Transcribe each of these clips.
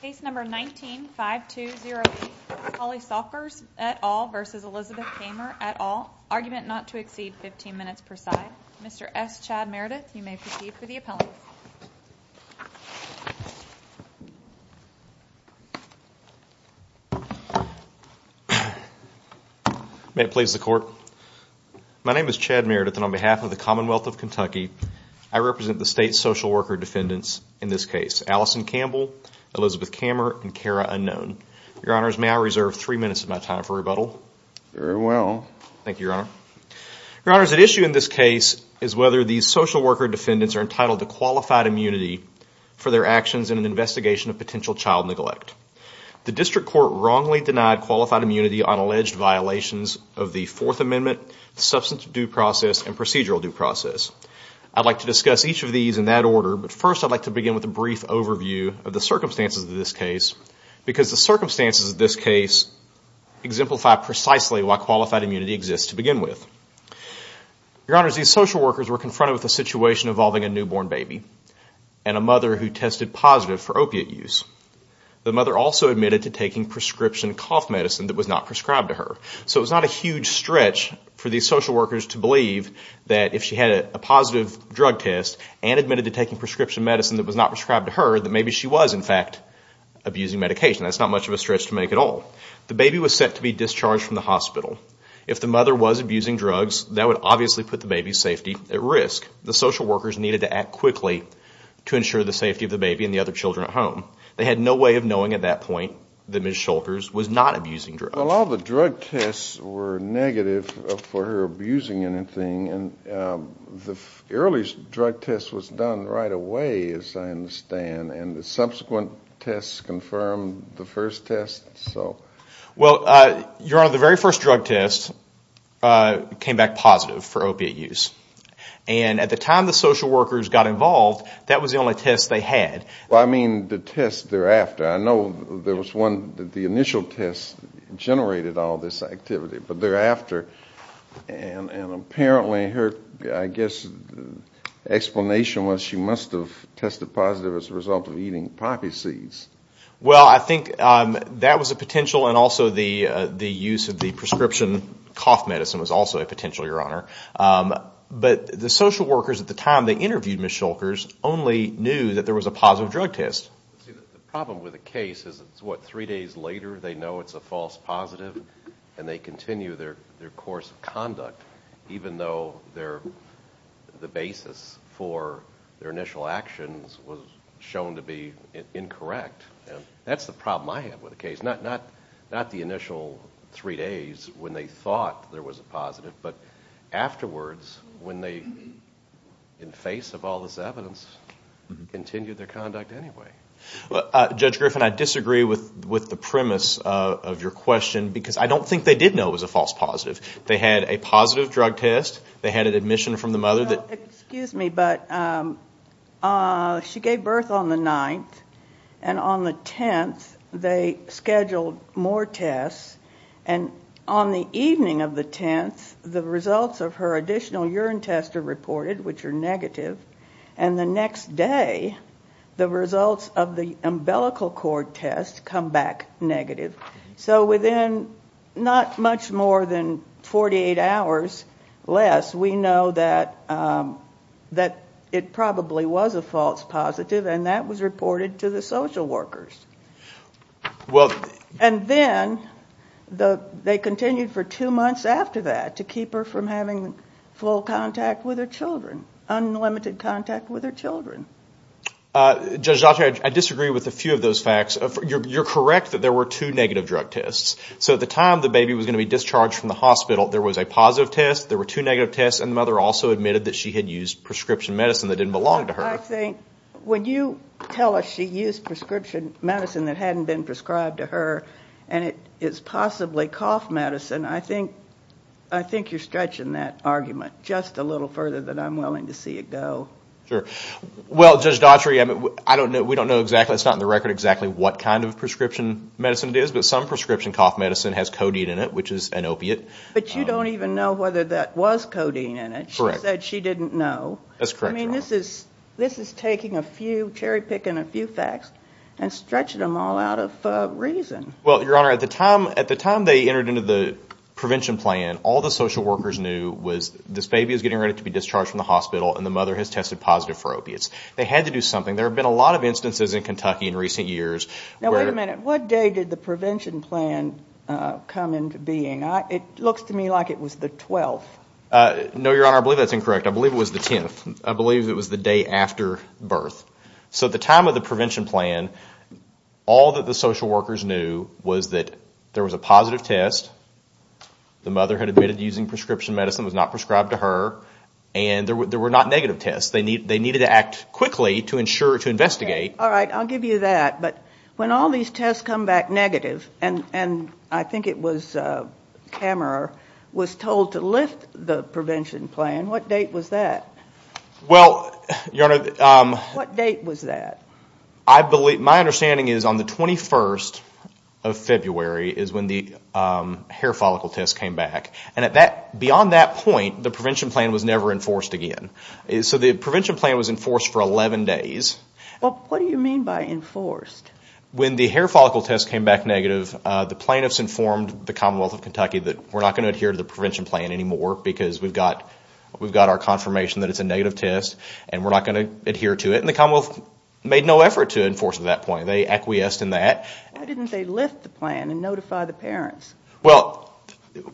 Case number 19-5208, Holly Schulkers, et al. v. Elizabeth Kammer, et al. Argument not to exceed 15 minutes per side. Mr. S. Chad Meredith, you may proceed for the appellant. May it please the Court? My name is Chad Meredith, and on behalf of the Commonwealth of Kentucky, I represent the state social worker defendants in this case, Allison Campbell, Elizabeth Kammer, and Kara Unknown. Your Honors, may I reserve three minutes of my time for rebuttal? Very well. Thank you, Your Honor. Your Honors, at issue in this case is whether these social worker defendants are entitled to qualified immunity for their actions in an investigation of potential child neglect. The District Court wrongly denied qualified immunity on alleged violations of the Fourth Amendment, substance due process, and procedural due process. I'd like to discuss each of these in that order, but first I'd like to begin with a brief overview of the circumstances of this case because the circumstances of this case exemplify precisely why qualified immunity exists to begin with. Your Honors, these social workers were confronted with a situation involving a newborn baby and a mother who tested positive for opiate use. The mother also admitted to taking prescription cough medicine that was not prescribed to her, so it was not a huge stretch for these social workers to believe that if she had a positive drug test and admitted to taking prescription medicine that was not prescribed to her, that maybe she was, in fact, abusing medication. That's not much of a stretch to make at all. The baby was set to be discharged from the hospital. If the mother was abusing drugs, that would obviously put the baby's safety at risk. The social workers needed to act quickly to ensure the safety of the baby and the other children at home. They had no way of knowing at that point that Ms. Shulkers was not abusing drugs. Well, all the drug tests were negative for her abusing anything, and the earliest drug test was done right away, as I understand, and the subsequent tests confirmed the first test. Well, Your Honor, the very first drug test came back positive for opiate use. And at the time the social workers got involved, that was the only test they had. Well, I mean the test thereafter. I know there was one that the initial test generated all this activity. But thereafter, and apparently her, I guess, explanation was she must have tested positive as a result of eating poppy seeds. Well, I think that was a potential, and also the use of the prescription cough medicine was also a potential, Your Honor. But the social workers at the time they interviewed Ms. Shulkers only knew that there was a positive drug test. The problem with the case is it's, what, three days later they know it's a false positive and they continue their course of conduct, even though the basis for their initial actions was shown to be incorrect. It's not the initial three days when they thought there was a positive, but afterwards when they, in face of all this evidence, continued their conduct anyway. Judge Griffin, I disagree with the premise of your question because I don't think they did know it was a false positive. They had a positive drug test. They had an admission from the mother that... and on the evening of the 10th the results of her additional urine test are reported, which are negative, and the next day the results of the umbilical cord test come back negative. So within not much more than 48 hours less we know that it probably was a false positive and that was reported to the social workers. And then they continued for two months after that to keep her from having full contact with her children, unlimited contact with her children. Judge Doctor, I disagree with a few of those facts. You're correct that there were two negative drug tests. So at the time the baby was going to be discharged from the hospital there was a positive test, there were two negative tests, and the mother also admitted that she had used prescription medicine that didn't belong to her. But I think when you tell us she used prescription medicine that hadn't been prescribed to her and it's possibly cough medicine, I think you're stretching that argument just a little further than I'm willing to see it go. Sure. Well, Judge Daughtry, we don't know exactly, it's not in the record exactly what kind of prescription medicine it is, but some prescription cough medicine has codeine in it, which is an opiate. But you don't even know whether that was codeine in it. Correct. She said she didn't know. That's correct, Your Honor. I mean, this is taking a few cherry-picking a few facts and stretching them all out of reason. Well, Your Honor, at the time they entered into the prevention plan, all the social workers knew was this baby was getting ready to be discharged from the hospital and the mother has tested positive for opiates. They had to do something. There have been a lot of instances in Kentucky in recent years where... Now, wait a minute. What day did the prevention plan come into being? It looks to me like it was the 12th. No, Your Honor, I believe that's incorrect. I believe it was the 10th. I believe it was the day after birth. So at the time of the prevention plan, all that the social workers knew was that there was a positive test, the mother had admitted to using prescription medicine, was not prescribed to her, and there were not negative tests. They needed to act quickly to ensure to investigate. All right, I'll give you that. But when all these tests come back negative, and I think it was Kammerer was told to lift the prevention plan, what date was that? Well, Your Honor... What date was that? My understanding is on the 21st of February is when the hair follicle test came back. And beyond that point, the prevention plan was never enforced again. So the prevention plan was enforced for 11 days. Well, what do you mean by enforced? When the hair follicle test came back negative, the plaintiffs informed the Commonwealth of Kentucky that we're not going to adhere to the prevention plan anymore because we've got our confirmation that it's a negative test and we're not going to adhere to it. And the Commonwealth made no effort to enforce it at that point. They acquiesced in that. Why didn't they lift the plan and notify the parents? Well, Your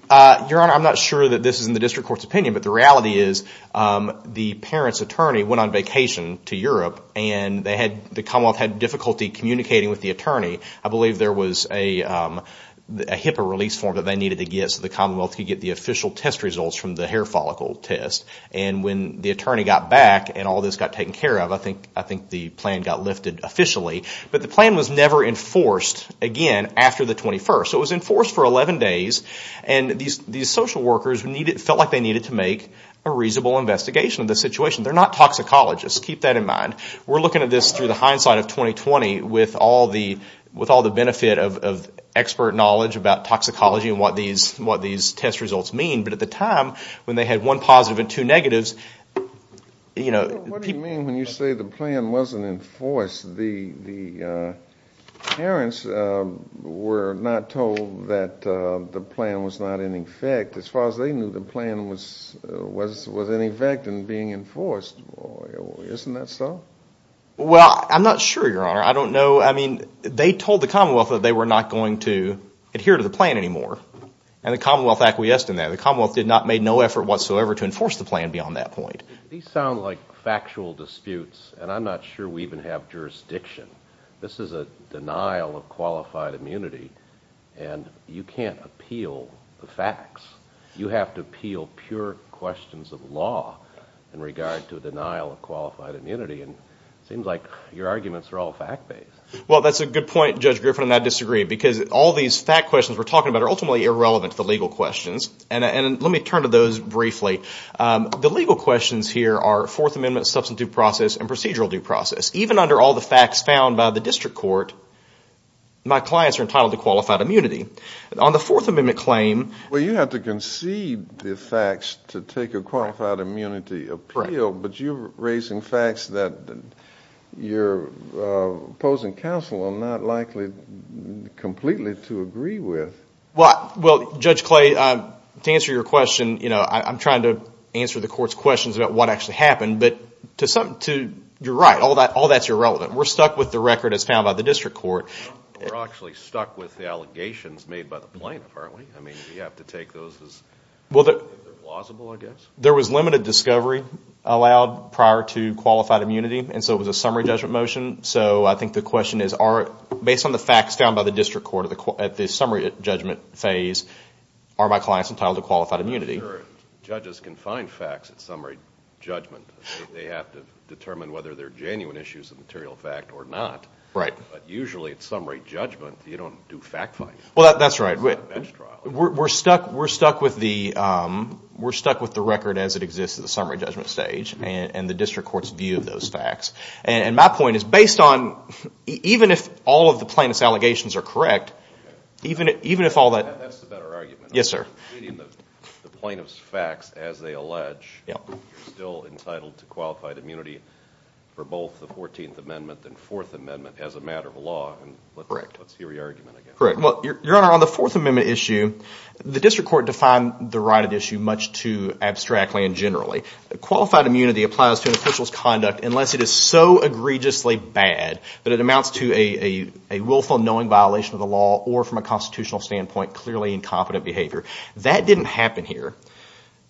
Honor, I'm not sure that this is in the district court's opinion, but the reality is the parents' attorney went on vacation to Europe and the Commonwealth had difficulty communicating with the attorney. I believe there was a HIPAA release form that they needed to get so the Commonwealth could get the official test results from the hair follicle test. And when the attorney got back and all this got taken care of, I think the plan got lifted officially. But the plan was never enforced again after the 21st. So it was enforced for 11 days, and these social workers felt like they needed to make a reasonable investigation of the situation. They're not toxicologists. Keep that in mind. We're looking at this through the hindsight of 2020 with all the benefit of expert knowledge about toxicology and what these test results mean. But at the time when they had one positive and two negatives, you know, people... What do you mean when you say the plan wasn't enforced? The parents were not told that the plan was not in effect. As far as they knew, the plan was in effect and being enforced. Isn't that so? Well, I'm not sure, Your Honor. I don't know. I mean, they told the Commonwealth that they were not going to adhere to the plan anymore. And the Commonwealth acquiesced in that. The Commonwealth did not make no effort whatsoever to enforce the plan beyond that point. These sound like factual disputes, and I'm not sure we even have jurisdiction. This is a denial of qualified immunity, and you can't appeal the facts. You have to appeal pure questions of law in regard to denial of qualified immunity. And it seems like your arguments are all fact-based. Well, that's a good point, Judge Griffin, and I disagree. Because all these fact questions we're talking about are ultimately irrelevant to the legal questions. And let me turn to those briefly. The legal questions here are Fourth Amendment, substantive process, and procedural due process. Even under all the facts found by the district court, my clients are entitled to qualified immunity. On the Fourth Amendment claim. Well, you have to concede the facts to take a qualified immunity appeal. But you're raising facts that your opposing counsel are not likely completely to agree with. Well, Judge Clay, to answer your question, I'm trying to answer the court's questions about what actually happened. But you're right, all that's irrelevant. We're stuck with the record as found by the district court. We're actually stuck with the allegations made by the plaintiff, aren't we? I mean, do you have to take those as plausible, I guess? There was limited discovery allowed prior to qualified immunity, and so it was a summary judgment motion. So I think the question is, based on the facts found by the district court at the summary judgment phase, are my clients entitled to qualified immunity? Judges can find facts at summary judgment. They have to determine whether they're genuine issues of material fact or not. But usually at summary judgment, you don't do fact-finding. Well, that's right. We're stuck with the record as it exists at the summary judgment stage and the district court's view of those facts. And my point is, even if all of the plaintiff's allegations are correct, even if all that— That's a better argument. Yes, sir. The plaintiff's facts, as they allege, you're still entitled to qualified immunity for both the 14th Amendment and 4th Amendment as a matter of law. Correct. Let's hear your argument again. Correct. Well, Your Honor, on the 4th Amendment issue, the district court defined the right at issue much too abstractly and generally. Qualified immunity applies to an official's conduct unless it is so egregiously bad that it amounts to a willful, knowing violation of the law or, from a constitutional standpoint, clearly incompetent behavior. That didn't happen here.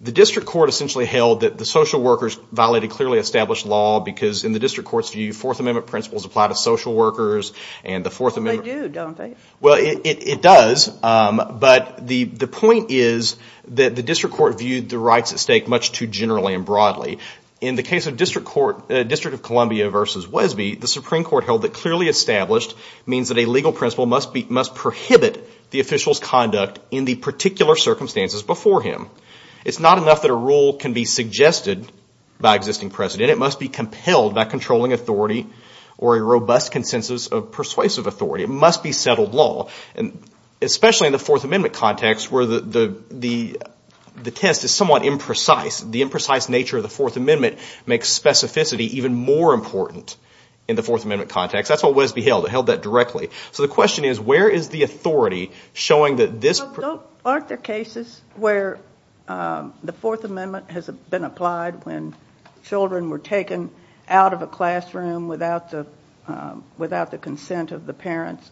The district court essentially held that the social workers violated clearly established law because, in the district court's view, 4th Amendment principles apply to social workers and the 4th Amendment— They do, don't they? Well, it does. But the point is that the district court viewed the rights at stake much too generally and broadly. In the case of District of Columbia v. Wesby, the Supreme Court held that clearly established means that a legal principle must prohibit the official's conduct in the particular circumstances before him. It's not enough that a rule can be suggested by existing precedent. It must be compelled by controlling authority or a robust consensus of persuasive authority. It must be settled law, especially in the 4th Amendment context where the test is somewhat imprecise. The imprecise nature of the 4th Amendment makes specificity even more important in the 4th Amendment context. That's what Wesby held. It held that directly. So the question is, where is the authority showing that this— Aren't there cases where the 4th Amendment has been applied when children were taken out of a classroom without the consent of the parents?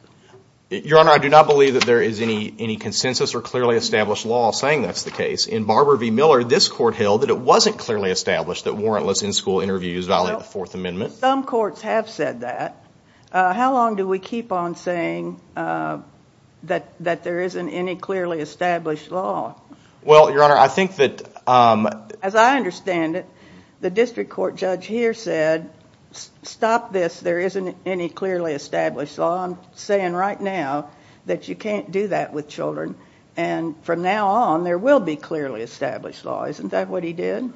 Your Honor, I do not believe that there is any consensus or clearly established law saying that's the case. In Barber v. Miller, this court held that it wasn't clearly established that warrantless in-school interviews violate the 4th Amendment. Some courts have said that. How long do we keep on saying that there isn't any clearly established law? Well, Your Honor, I think that— As I understand it, the district court judge here said, stop this. There isn't any clearly established law. And from now on, there will be clearly established law. Isn't that what he did?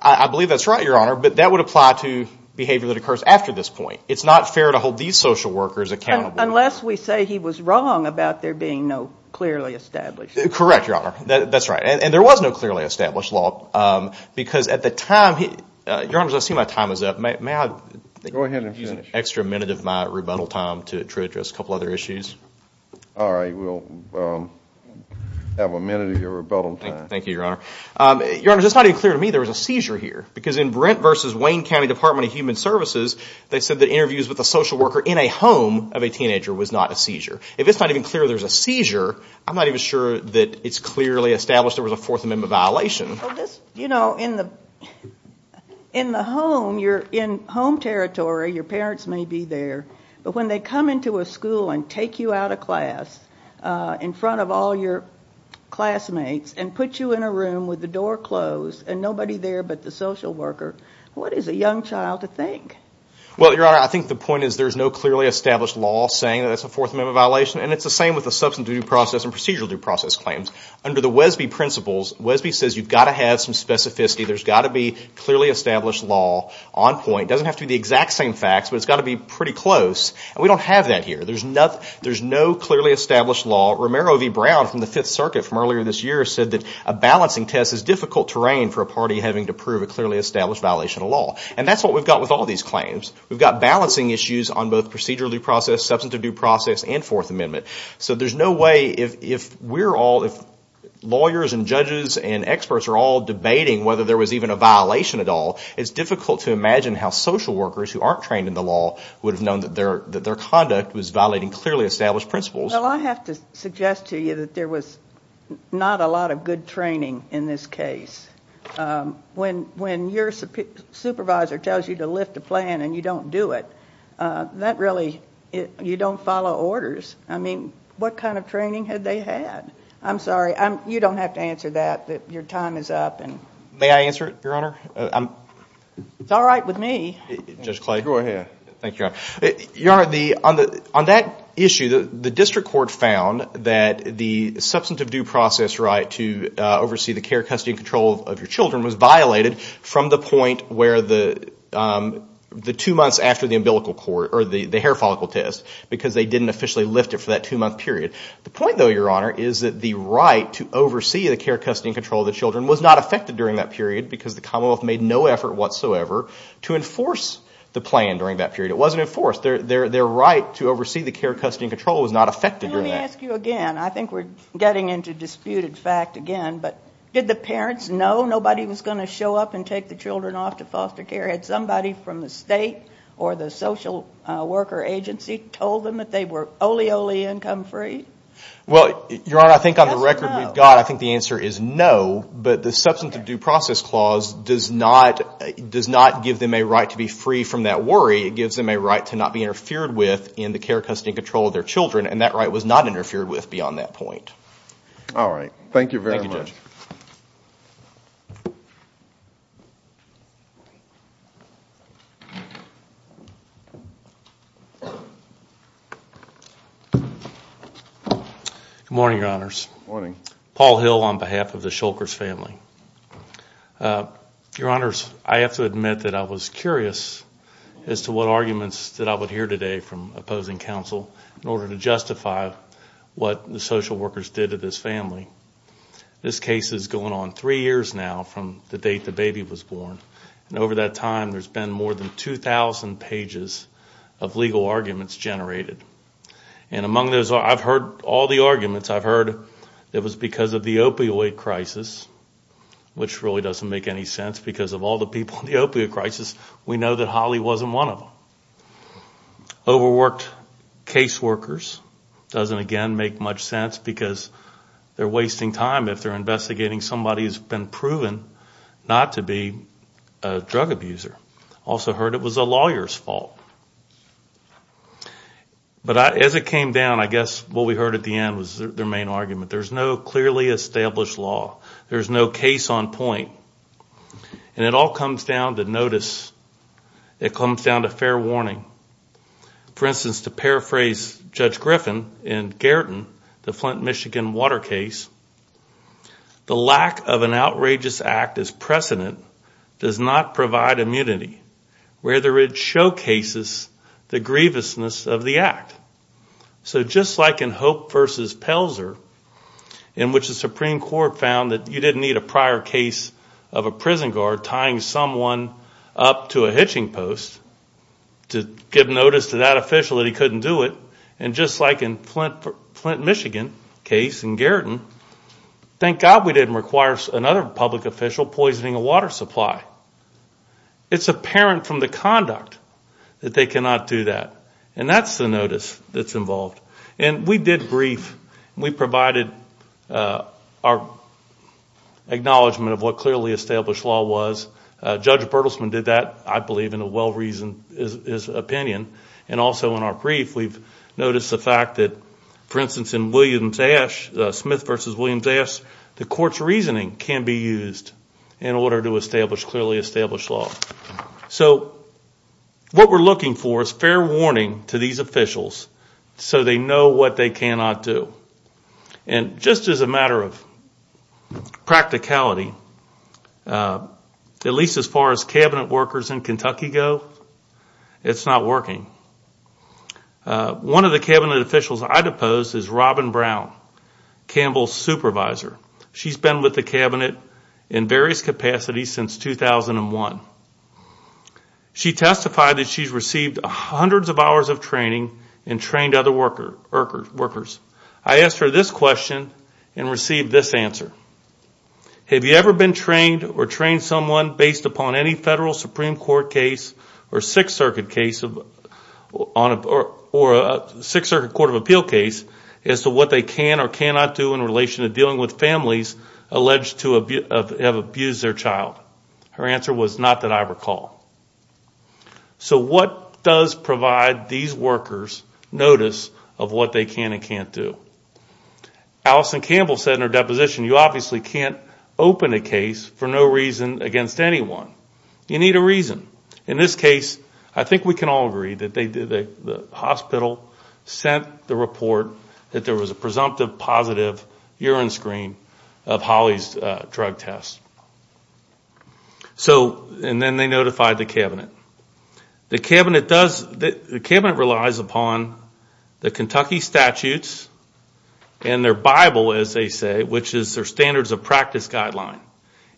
I believe that's right, Your Honor, but that would apply to behavior that occurs after this point. It's not fair to hold these social workers accountable. Unless we say he was wrong about there being no clearly established law. Correct, Your Honor. That's right. And there was no clearly established law because at the time— Your Honors, I see my time is up. May I use an extra minute of my rebuttal time to address a couple other issues? All right. We'll have a minute of your rebuttal time. Thank you, Your Honor. Your Honors, it's not even clear to me there was a seizure here. Because in Brent v. Wayne County Department of Human Services, they said that interviews with a social worker in a home of a teenager was not a seizure. If it's not even clear there was a seizure, I'm not even sure that it's clearly established there was a 4th Amendment violation. You know, in the home, you're in home territory. Your parents may be there. But when they come into a school and take you out of class in front of all your classmates and put you in a room with the door closed and nobody there but the social worker, what is a young child to think? Well, Your Honor, I think the point is there is no clearly established law saying that it's a 4th Amendment violation. And it's the same with the substance due process and procedural due process claims. Under the Wesby principles, Wesby says you've got to have some specificity. There's got to be clearly established law on point. It doesn't have to be the exact same facts, but it's got to be pretty close. And we don't have that here. There's no clearly established law. Romero v. Brown from the Fifth Circuit from earlier this year said that a balancing test is difficult terrain for a party having to prove a clearly established violation of law. And that's what we've got with all these claims. We've got balancing issues on both procedural due process, substantive due process, and 4th Amendment. So there's no way if we're all, if lawyers and judges and experts are all debating whether there was even a violation at all, it's difficult to imagine how social workers who aren't trained in the law would have known that their conduct was violating clearly established principles. Well, I have to suggest to you that there was not a lot of good training in this case. When your supervisor tells you to lift a plan and you don't do it, that really, you don't follow orders. I mean, what kind of training had they had? I'm sorry, you don't have to answer that. Your time is up. May I answer it, Your Honor? It's all right with me. Judge Clay. Go ahead. Thank you, Your Honor. Your Honor, on that issue, the district court found that the substantive due process right to oversee the care, custody, and control of your children was violated from the point where the two months after the umbilical cord or the hair follicle test because they didn't officially lift it for that two-month period. The point, though, Your Honor, is that the right to oversee the care, custody, and control of the children was not affected during that period because the Commonwealth made no effort whatsoever to enforce the plan during that period. It wasn't enforced. Their right to oversee the care, custody, and control was not affected during that. Let me ask you again. I think we're getting into disputed fact again, but did the parents know nobody was going to show up and take the children off to foster care? Had somebody from the state or the social worker agency told them that they were ole, ole, income free? Well, Your Honor, I think on the record we've got, I think the answer is no, but the substance of due process clause does not give them a right to be free from that worry. It gives them a right to not be interfered with in the care, custody, and control of their children, and that right was not interfered with beyond that point. All right. Thank you very much. Thank you, Judge. Good morning, Your Honors. Good morning. Paul Hill on behalf of the Shulkers family. Your Honors, I have to admit that I was curious as to what arguments that I would hear today from opposing counsel in order to justify what the social workers did to this family. This case is going on three years now from the date the baby was born, and over that time there's been more than 2,000 pages of legal arguments generated. And among those, I've heard all the arguments. I've heard it was because of the opioid crisis, which really doesn't make any sense because of all the people in the opioid crisis, we know that Holly wasn't one of them. Overworked case workers doesn't, again, make much sense because they're wasting time if they're investigating somebody who's been proven not to be a drug abuser. Also heard it was a lawyer's fault. But as it came down, I guess what we heard at the end was their main argument. There's no clearly established law. There's no case on point. And it all comes down to notice. It comes down to fair warning. For instance, to paraphrase Judge Griffin in Garriton, the Flint, Michigan, water case, the lack of an outrageous act as precedent does not provide immunity, whether it showcases the grievousness of the act. So just like in Hope v. Pelzer, in which the Supreme Court found that you didn't need a prior case of a prison guard tying someone up to a hitching post to give notice to that official that he couldn't do it, and just like in Flint, Michigan case in Garriton, thank God we didn't require another public official poisoning a water supply. It's apparent from the conduct that they cannot do that. And that's the notice that's involved. And we did brief. We provided our acknowledgment of what clearly established law was. Judge Bertelsman did that, I believe, in a well-reasoned opinion. And also in our brief, we've noticed the fact that, for instance, in Williams-Ash, Smith v. Williams-Ash, the court's reasoning can be used in order to establish clearly established law. So what we're looking for is fair warning to these officials so they know what they cannot do. And just as a matter of practicality, at least as far as Cabinet workers in Kentucky go, it's not working. One of the Cabinet officials I deposed is Robin Brown, Campbell's supervisor. She's been with the Cabinet in various capacities since 2001. She testified that she's received hundreds of hours of training and trained other workers. I asked her this question and received this answer. Have you ever been trained or trained someone based upon any federal Supreme Court case or Sixth Circuit case or Sixth Circuit Court of Appeal case as to what they can or cannot do in relation to dealing with families alleged to have abused their child? Her answer was, not that I recall. So what does provide these workers notice of what they can and can't do? Allison Campbell said in her deposition, you obviously can't open a case for no reason against anyone. You need a reason. In this case, I think we can all agree that the hospital sent the report that there was a presumptive positive urine screen of Holly's drug test. And then they notified the Cabinet. The Cabinet relies upon the Kentucky statutes and their Bible, as they say, which is their standards of practice guideline.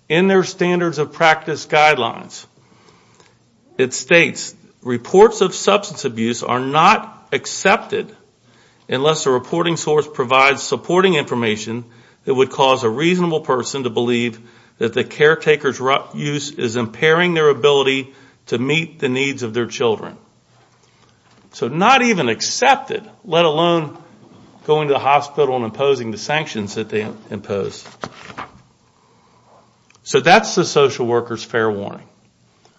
In their standards of practice guidelines, it states, reports of substance abuse are not accepted unless the reporting source provides supporting information that would cause a reasonable person to believe that the caretaker's use is impairing their ability to meet the needs of their children. So not even accepted, let alone going to the hospital and imposing the sanctions that they impose. So that's the social worker's fair warning.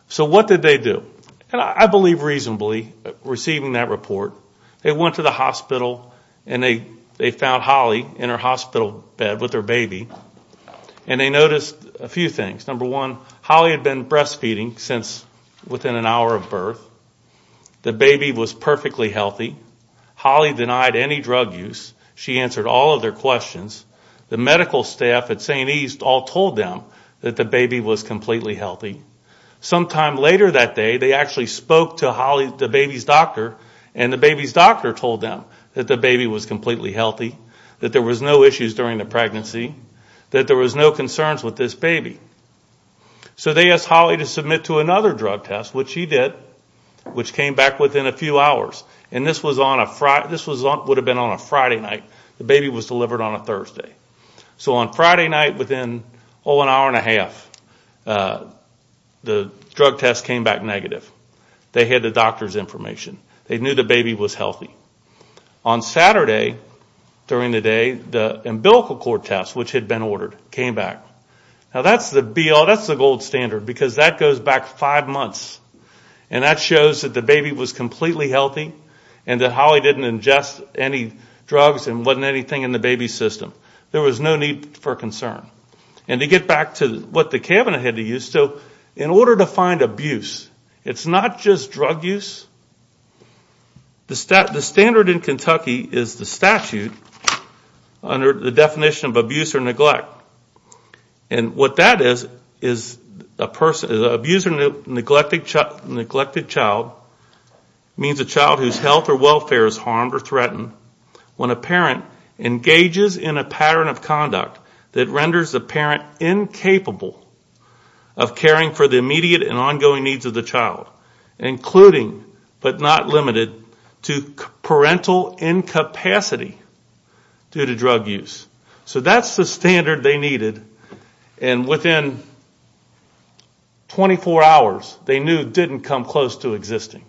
So what did they do? And I believe reasonably receiving that report, they went to the hospital and they found Holly in her hospital bed with her baby. And they noticed a few things. Number one, Holly had been breastfeeding since within an hour of birth. The baby was perfectly healthy. Holly denied any drug use. She answered all of their questions. The medical staff at St. East all told them that the baby was completely healthy. Sometime later that day, they actually spoke to Holly, the baby's doctor, and the baby's doctor told them that the baby was completely healthy, that there was no issues during the pregnancy, that there was no concerns with this baby. So they asked Holly to submit to another drug test, which she did, which came back within a few hours. And this would have been on a Friday night. The baby was delivered on a Thursday. So on Friday night within, oh, an hour and a half, the drug test came back negative. They had the doctor's information. They knew the baby was healthy. On Saturday during the day, the umbilical cord test, which had been ordered, came back. Now that's the gold standard because that goes back five months, and that shows that the baby was completely healthy and that Holly didn't ingest any drugs and wasn't anything in the baby's system. There was no need for concern. And to get back to what the cabinet had to use, so in order to find abuse, it's not just drug use. The standard in Kentucky is the statute under the definition of abuse or neglect. And what that is is a person, an abused or neglected child means a child whose health or welfare is harmed or threatened when a parent engages in a pattern of conduct that renders the parent incapable of caring for the immediate and ongoing needs of the child, including but not limited to parental incapacity due to drug use. So that's the standard they needed. And within 24 hours, they knew it didn't come close to existing.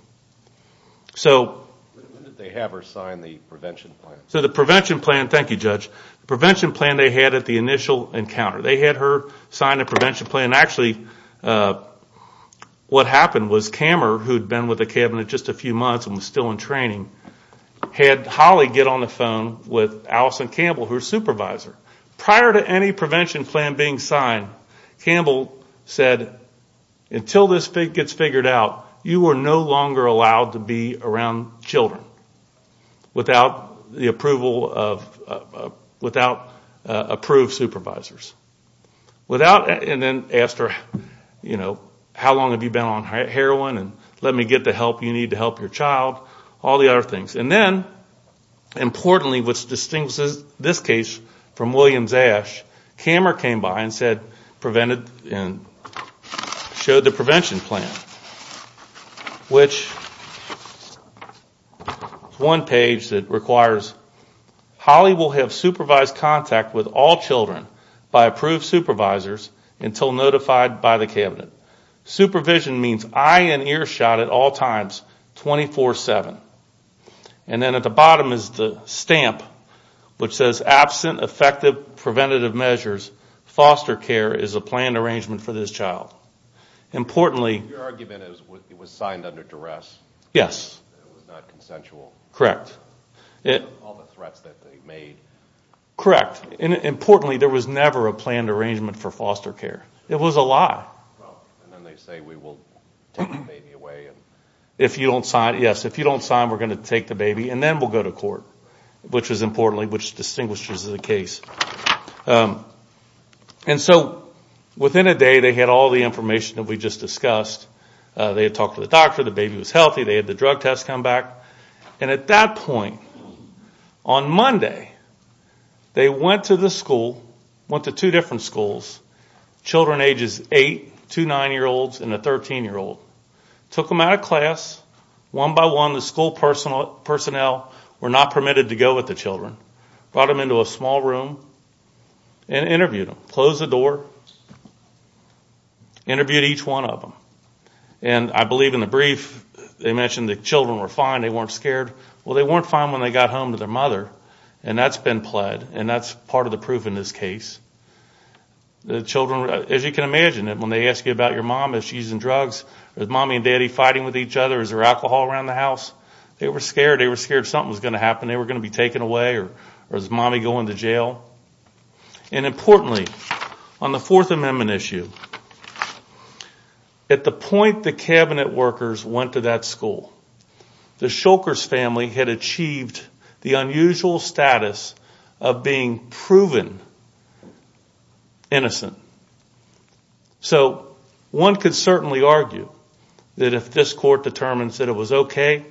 So... When did they have her sign the prevention plan? So the prevention plan, thank you, Judge. The prevention plan they had at the initial encounter. They had her sign a prevention plan. Actually, what happened was Camer, who had been with the cabinet just a few months and was still in training, had Holly get on the phone with Allison Campbell, her supervisor. Prior to any prevention plan being signed, Campbell said, until this gets figured out, you are no longer allowed to be around children without the approval of, without approved supervisors. Without, and then asked her, you know, how long have you been on heroin and let me get the help you need to help your child, all the other things. And then, importantly, which distinguishes this case from Williams-Ash, Camer came by and said, prevented, and showed the prevention plan, which is one page that requires, Holly will have supervised contact with all children by approved supervisors until notified by the cabinet. Supervision means eye and ear shot at all times, 24-7. And then at the bottom is the stamp, which says, absent effective preventative measures, foster care is a planned arrangement for this child. Importantly... Your argument is it was signed under duress? Yes. It was not consensual? Correct. All the threats that they made? Correct. Importantly, there was never a planned arrangement for foster care. It was a lie. And then they say, we will take the baby away. If you don't sign, yes, if you don't sign, we're going to take the baby and then we'll go to court, which is importantly, which distinguishes the case. And so within a day, they had all the information that we just discussed. They had talked to the doctor, the baby was healthy, they had the drug test come back. And at that point, on Monday, they went to the school, went to two different schools, children ages 8, two 9-year-olds, and a 13-year-old. Took them out of class. One by one, the school personnel were not permitted to go with the children. Brought them into a small room and interviewed them. Closed the door. Interviewed each one of them. And I believe in the brief, they mentioned the children were fine, they weren't scared. Well, they weren't fine when they got home to their mother, and that's been pled, and that's part of the proof in this case. The children, as you can imagine, when they ask you about your mom, is she using drugs? Is Mommy and Daddy fighting with each other? Is there alcohol around the house? They were scared. They were scared something was going to happen. They were going to be taken away. Or is Mommy going to jail? And importantly, on the Fourth Amendment issue, at the point the cabinet workers went to that school, the Shulkers family had achieved the unusual status of being proven innocent. So one could certainly argue that if this court determines that it was okay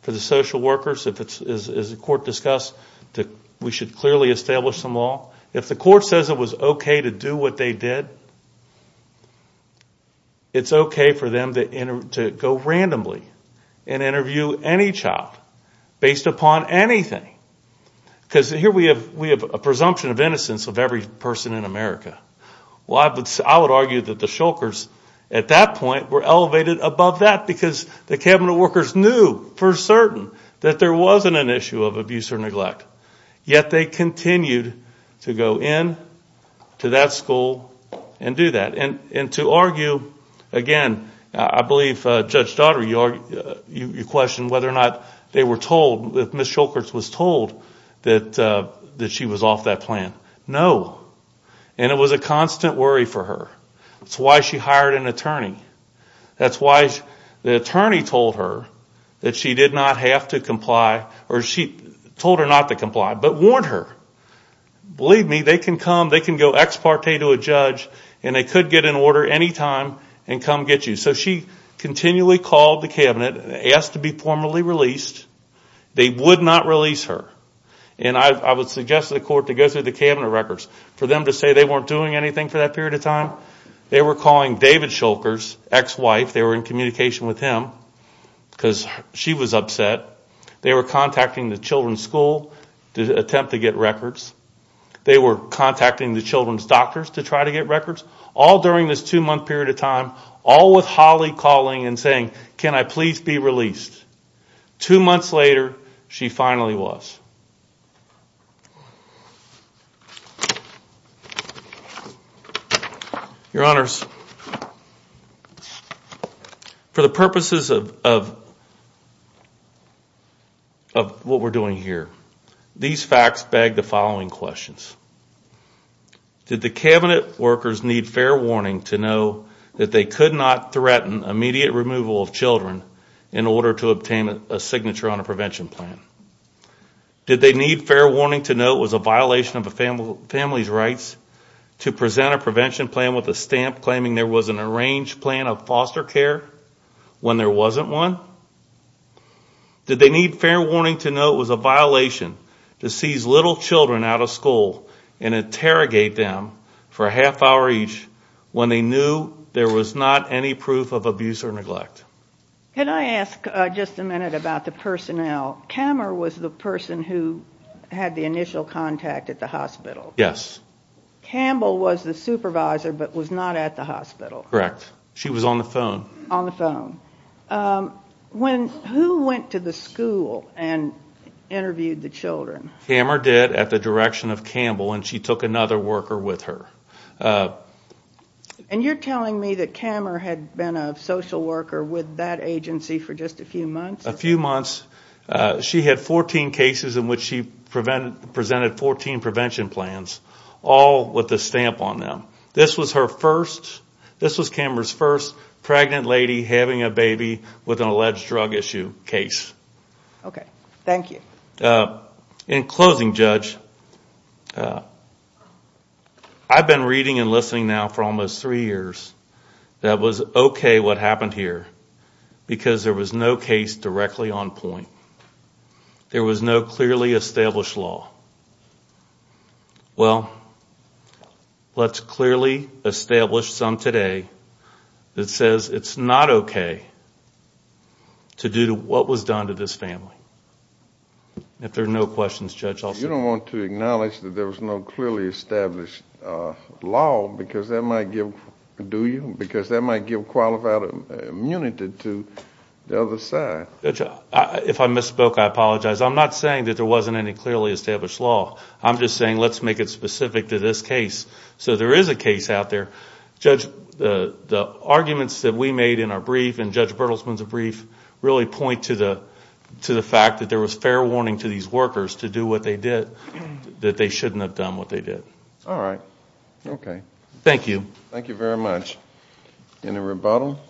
for the social workers, as the court discussed, that we should clearly establish some law. If the court says it was okay to do what they did, it's okay for them to go randomly and interview any child based upon anything. Because here we have a presumption of innocence of every person in America. Well, I would argue that the Shulkers at that point were elevated above that because the cabinet workers knew for certain that there wasn't an issue of abuse or neglect. Yet they continued to go in to that school and do that. And to argue, again, I believe Judge Daugherty, you questioned whether or not they were told, if Ms. Shulkers was told that she was off that plan. No. And it was a constant worry for her. That's why she hired an attorney. That's why the attorney told her that she did not have to comply or told her not to comply, but warned her. Believe me, they can come, they can go ex parte to a judge and they could get an order any time and come get you. So she continually called the cabinet, asked to be formally released. They would not release her. And I would suggest to the court to go through the cabinet records for them to say they weren't doing anything for that period of time. They were calling David Shulkers' ex-wife. They were in communication with him because she was upset. They were contacting the children's school to attempt to get records. They were contacting the children's doctors to try to get records, all during this two-month period of time, all with Holly calling and saying, can I please be released? Two months later, she finally was. Your Honors, for the purposes of what we're doing here, these facts beg the following questions. Did the cabinet workers need fair warning to know that they could not threaten immediate removal of children in order to obtain a signature on a prevention plan? Did they need fair warning to know it was a violation of a family's rights to present a prevention plan with a stamp claiming there was an arranged plan of foster care when there wasn't one? Did they need fair warning to know it was a violation to seize little children out of school and interrogate them for a half hour each when they knew there was not any proof of abuse or neglect? Can I ask just a minute about the personnel? Kammer was the person who had the initial contact at the hospital. Yes. Campbell was the supervisor but was not at the hospital. Correct. She was on the phone. On the phone. Who went to the school and interviewed the children? Kammer did at the direction of Campbell, and she took another worker with her. And you're telling me that Kammer had been a social worker with that agency for just a few months? A few months. She had 14 cases in which she presented 14 prevention plans, all with a stamp on them. This was Kammer's first pregnant lady having a baby with an alleged drug issue case. Okay. Thank you. In closing, Judge, I've been reading and listening now for almost three years that it was okay what happened here because there was no case directly on point. There was no clearly established law. Well, let's clearly establish some today that says it's not okay to do what was done to this family. If there are no questions, Judge, I'll stop. You don't want to acknowledge that there was no clearly established law because that might give qualified immunity to the other side. Judge, if I misspoke, I apologize. I'm not saying that there wasn't any clearly established law. I'm just saying let's make it specific to this case. So there is a case out there. Judge, the arguments that we made in our brief and Judge Bertelsman's brief really point to the fact that there was fair warning to these workers to do what they did, that they shouldn't have done what they did. All right. Okay. Thank you. Thank you very much. Any rebuttal?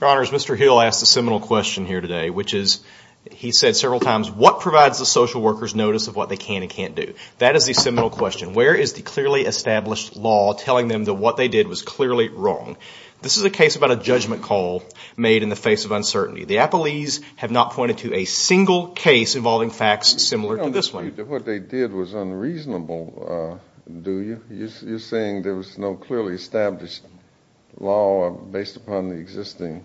Your Honors, Mr. Hill asked a seminal question here today, which is he said several times, what provides the social workers notice of what they can and can't do? That is the seminal question. Where is the clearly established law telling them that what they did was clearly wrong? This is a case about a judgment call made in the face of uncertainty. They have not pointed to a single case involving a judgment call. You don't dispute that what they did was unreasonable, do you? You're saying there was no clearly established law based upon the existing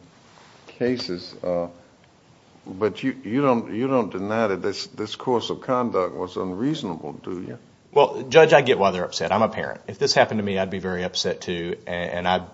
cases. But you don't deny that this course of conduct was unreasonable, do you? Well, Judge, I get why they're upset. I'm a parent. If this happened to me, I'd be very upset too, and I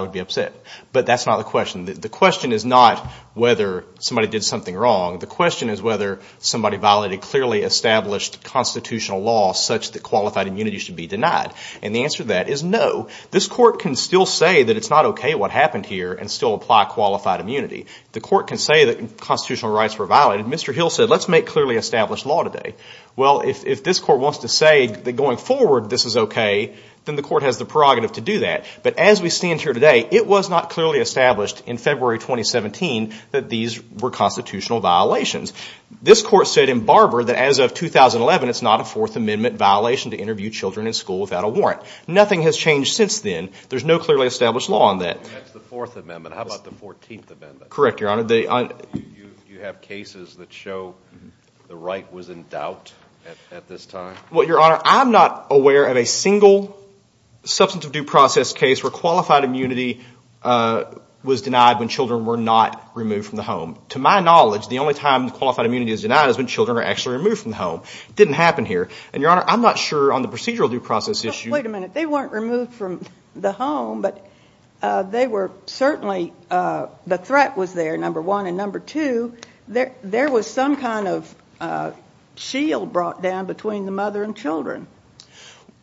would be upset. But that's not the question. The question is not whether somebody did something wrong. The question is whether somebody violated clearly established constitutional law such that qualified immunity should be denied. And the answer to that is no. This court can still say that it's not okay what happened here and still apply qualified immunity. The court can say that constitutional rights were violated. Mr. Hill said, let's make clearly established law today. Well, if this court wants to say that going forward this is okay, then the court has the prerogative to do that. But as we stand here today, it was not clearly established in February 2017 that these were constitutional violations. This court said in Barber that as of 2011, it's not a Fourth Amendment violation to interview children in school without a warrant. Nothing has changed since then. There's no clearly established law on that. That's the Fourth Amendment. How about the Fourteenth Amendment? Correct, Your Honor. Do you have cases that show the right was in doubt at this time? Well, Your Honor, I'm not aware of a single substance of due process case where qualified immunity was denied when children were not removed from the home. To my knowledge, the only time qualified immunity is denied is when children are actually removed from the home. It didn't happen here. And, Your Honor, I'm not sure on the procedural due process issue. Well, wait a minute. They weren't removed from the home, but they were certainly the threat was there, number one. And, number two, there was some kind of shield brought down between the mother and children.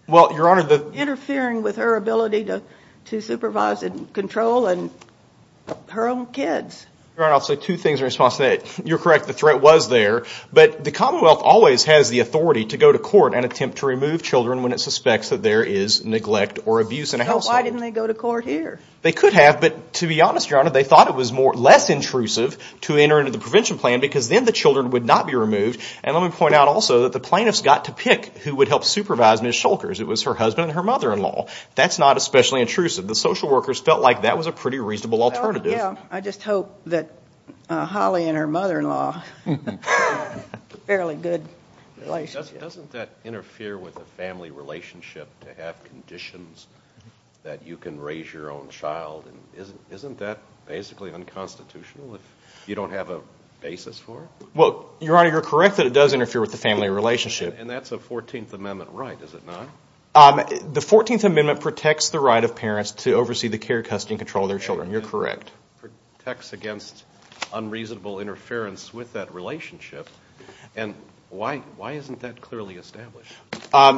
Well, Your Honor, the to supervise and control her own kids. Your Honor, I'll say two things in response to that. You're correct. The threat was there. But the Commonwealth always has the authority to go to court and attempt to remove children when it suspects that there is neglect or abuse in a household. So why didn't they go to court here? They could have, but to be honest, Your Honor, they thought it was less intrusive to enter into the prevention plan because then the children would not be removed. And let me point out also that the plaintiffs got to pick who would help supervise Ms. Shulkers. It was her husband and her mother-in-law. That's not especially intrusive. The social workers felt like that was a pretty reasonable alternative. Well, yeah. I just hope that Holly and her mother-in-law have a fairly good relationship. Doesn't that interfere with a family relationship to have conditions that you can raise your own child? Isn't that basically unconstitutional if you don't have a basis for it? Well, Your Honor, you're correct that it does interfere with the family relationship. And that's a 14th Amendment right, is it not? The 14th Amendment protects the right of parents to oversee the care, custody, and control of their children. You're correct. It protects against unreasonable interference with that relationship. And why isn't that clearly established?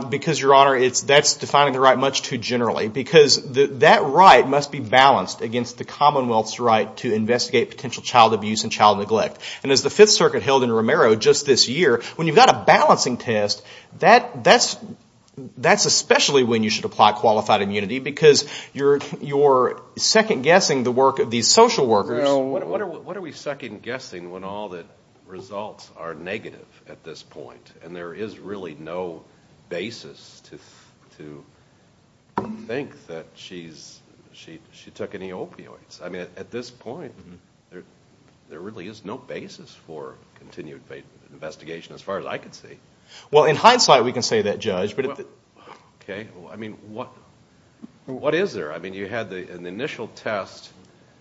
Because, Your Honor, that's defining the right much too generally because that right must be balanced against the Commonwealth's right to investigate potential child abuse and child neglect. And as the Fifth Circuit held in Romero just this year, when you've got a balancing test, that's especially when you should apply qualified immunity because you're second-guessing the work of these social workers. What are we second-guessing when all the results are negative at this point? And there is really no basis to think that she took any opioids. I mean, at this point, there really is no basis for continued investigation as far as I can see. Well, in hindsight, we can say that, Judge. Okay. I mean, what is there? I mean, you had an initial test,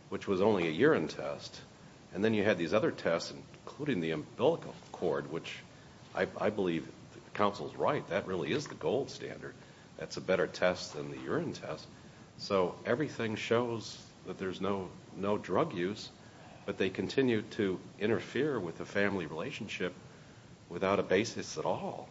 which was only a urine test, and then you had these other tests including the umbilical cord, which I believe the counsel's right. That really is the gold standard. That's a better test than the urine test. So everything shows that there's no drug use, but they continue to interfere with the family relationship without a basis at all.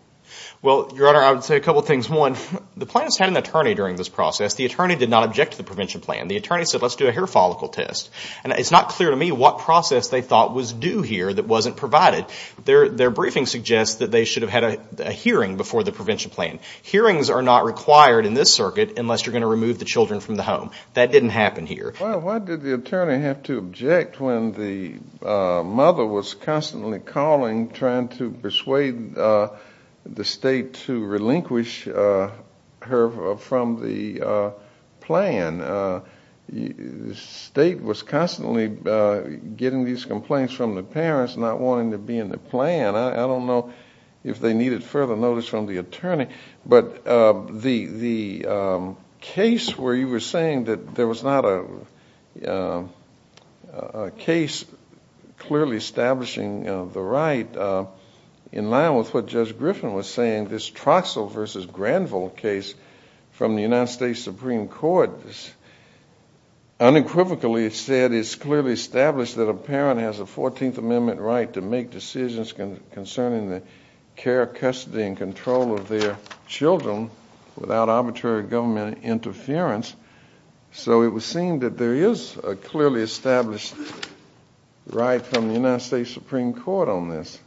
Well, Your Honor, I would say a couple things. One, the plaintiffs had an attorney during this process. The attorney did not object to the prevention plan. The attorney said, let's do a hair follicle test. And it's not clear to me what process they thought was due here that wasn't provided. Their briefing suggests that they should have had a hearing before the prevention plan. Hearings are not required in this circuit unless you're going to remove the children from the home. That didn't happen here. Well, why did the attorney have to object when the mother was constantly calling, trying to persuade the state to relinquish her from the plan? The state was constantly getting these complaints from the parents, not wanting to be in the plan. I don't know if they needed further notice from the attorney. But the case where you were saying that there was not a case clearly establishing the right, in line with what Judge Griffin was saying, this Troxell v. Granville case from the United States Supreme Court, unequivocally said it's clearly established that a parent has a 14th Amendment right to make decisions concerning the care, custody, and control of their children without arbitrary government interference. So it was seen that there is a clearly established right from the United States Supreme Court on this.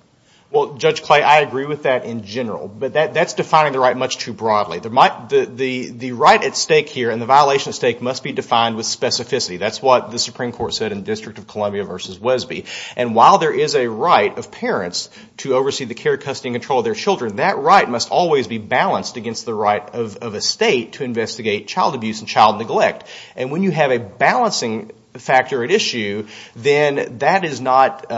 Well, Judge Clay, I agree with that in general. But that's defining the right much too broadly. The right at stake here and the violation at stake must be defined with specificity. That's what the Supreme Court said in the District of Columbia v. Wesby. And while there is a right of parents to oversee the care, custody, and control of their children, that right must always be balanced against the right of a state to investigate child abuse and child neglect. And when you have a balancing factor at issue, then that is not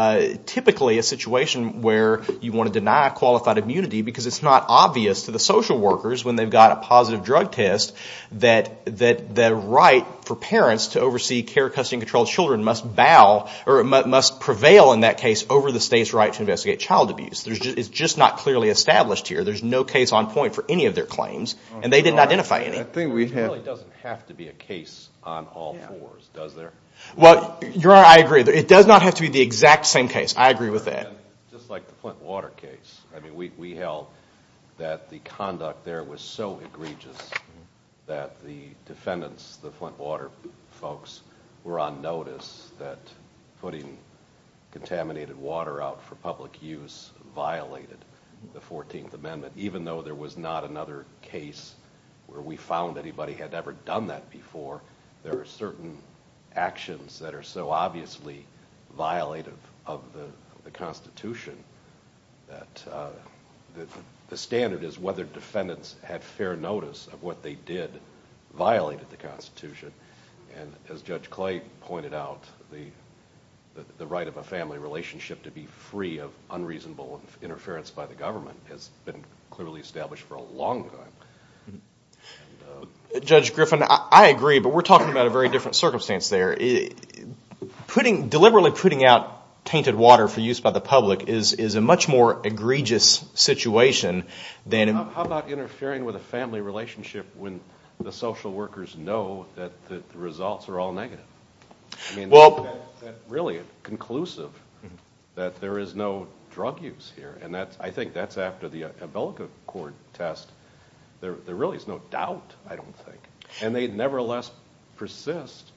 typically a situation where you want to deny qualified immunity because it's not obvious to the social workers when they've got a positive drug test that the right for parents to oversee care, custody, and control of children must bow or must prevail in that case over the state's right to investigate child abuse. It's just not clearly established here. There's no case on point for any of their claims, and they didn't identify any. It really doesn't have to be a case on all fours, does there? Well, Your Honor, I agree. It does not have to be the exact same case. I agree with that. Just like the Flint Water case. I mean, we held that the conduct there was so egregious that the defendants, the Flint Water folks, were on notice that putting contaminated water out for public use violated the 14th Amendment, even though there was not another case where we found anybody had ever done that before. There are certain actions that are so obviously violative of the Constitution that the standard is whether defendants had fair notice of what they did violated the Constitution. And as Judge Clay pointed out, the right of a family relationship to be free of unreasonable interference by the government has been clearly established for a long time. Judge Griffin, I agree, but we're talking about a very different circumstance there. Deliberately putting out tainted water for use by the public is a much more egregious situation. How about interfering with a family relationship when the social workers know that the results are all negative? I mean, that's really conclusive, that there is no drug use here. And I think that's after the Abelica Court test. There really is no doubt, I don't think. And they nevertheless persist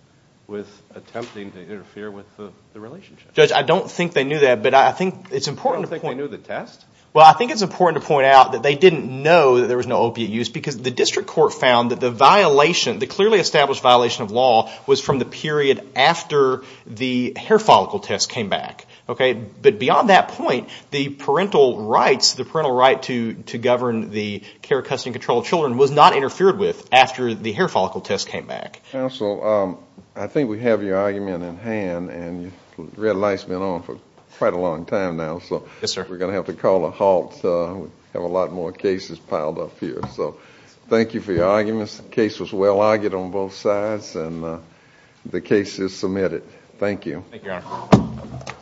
with attempting to interfere with the relationship. Judge, I don't think they knew that, but I think it's important to point out. You don't think they knew the test? Well, I think it's important to point out that they didn't know that there was no opiate use because the district court found that the violation, the clearly established violation of law, was from the period after the hair follicle test came back. But beyond that point, the parental rights, the parental right to govern the care, custody, and control of children was not interfered with after the hair follicle test came back. Counsel, I think we have your argument in hand, and the red light's been on for quite a long time now. So we're going to have to call a halt. We have a lot more cases piled up here. So thank you for your arguments. The case was well argued on both sides, and the case is submitted. Thank you. Thank you, Your Honor.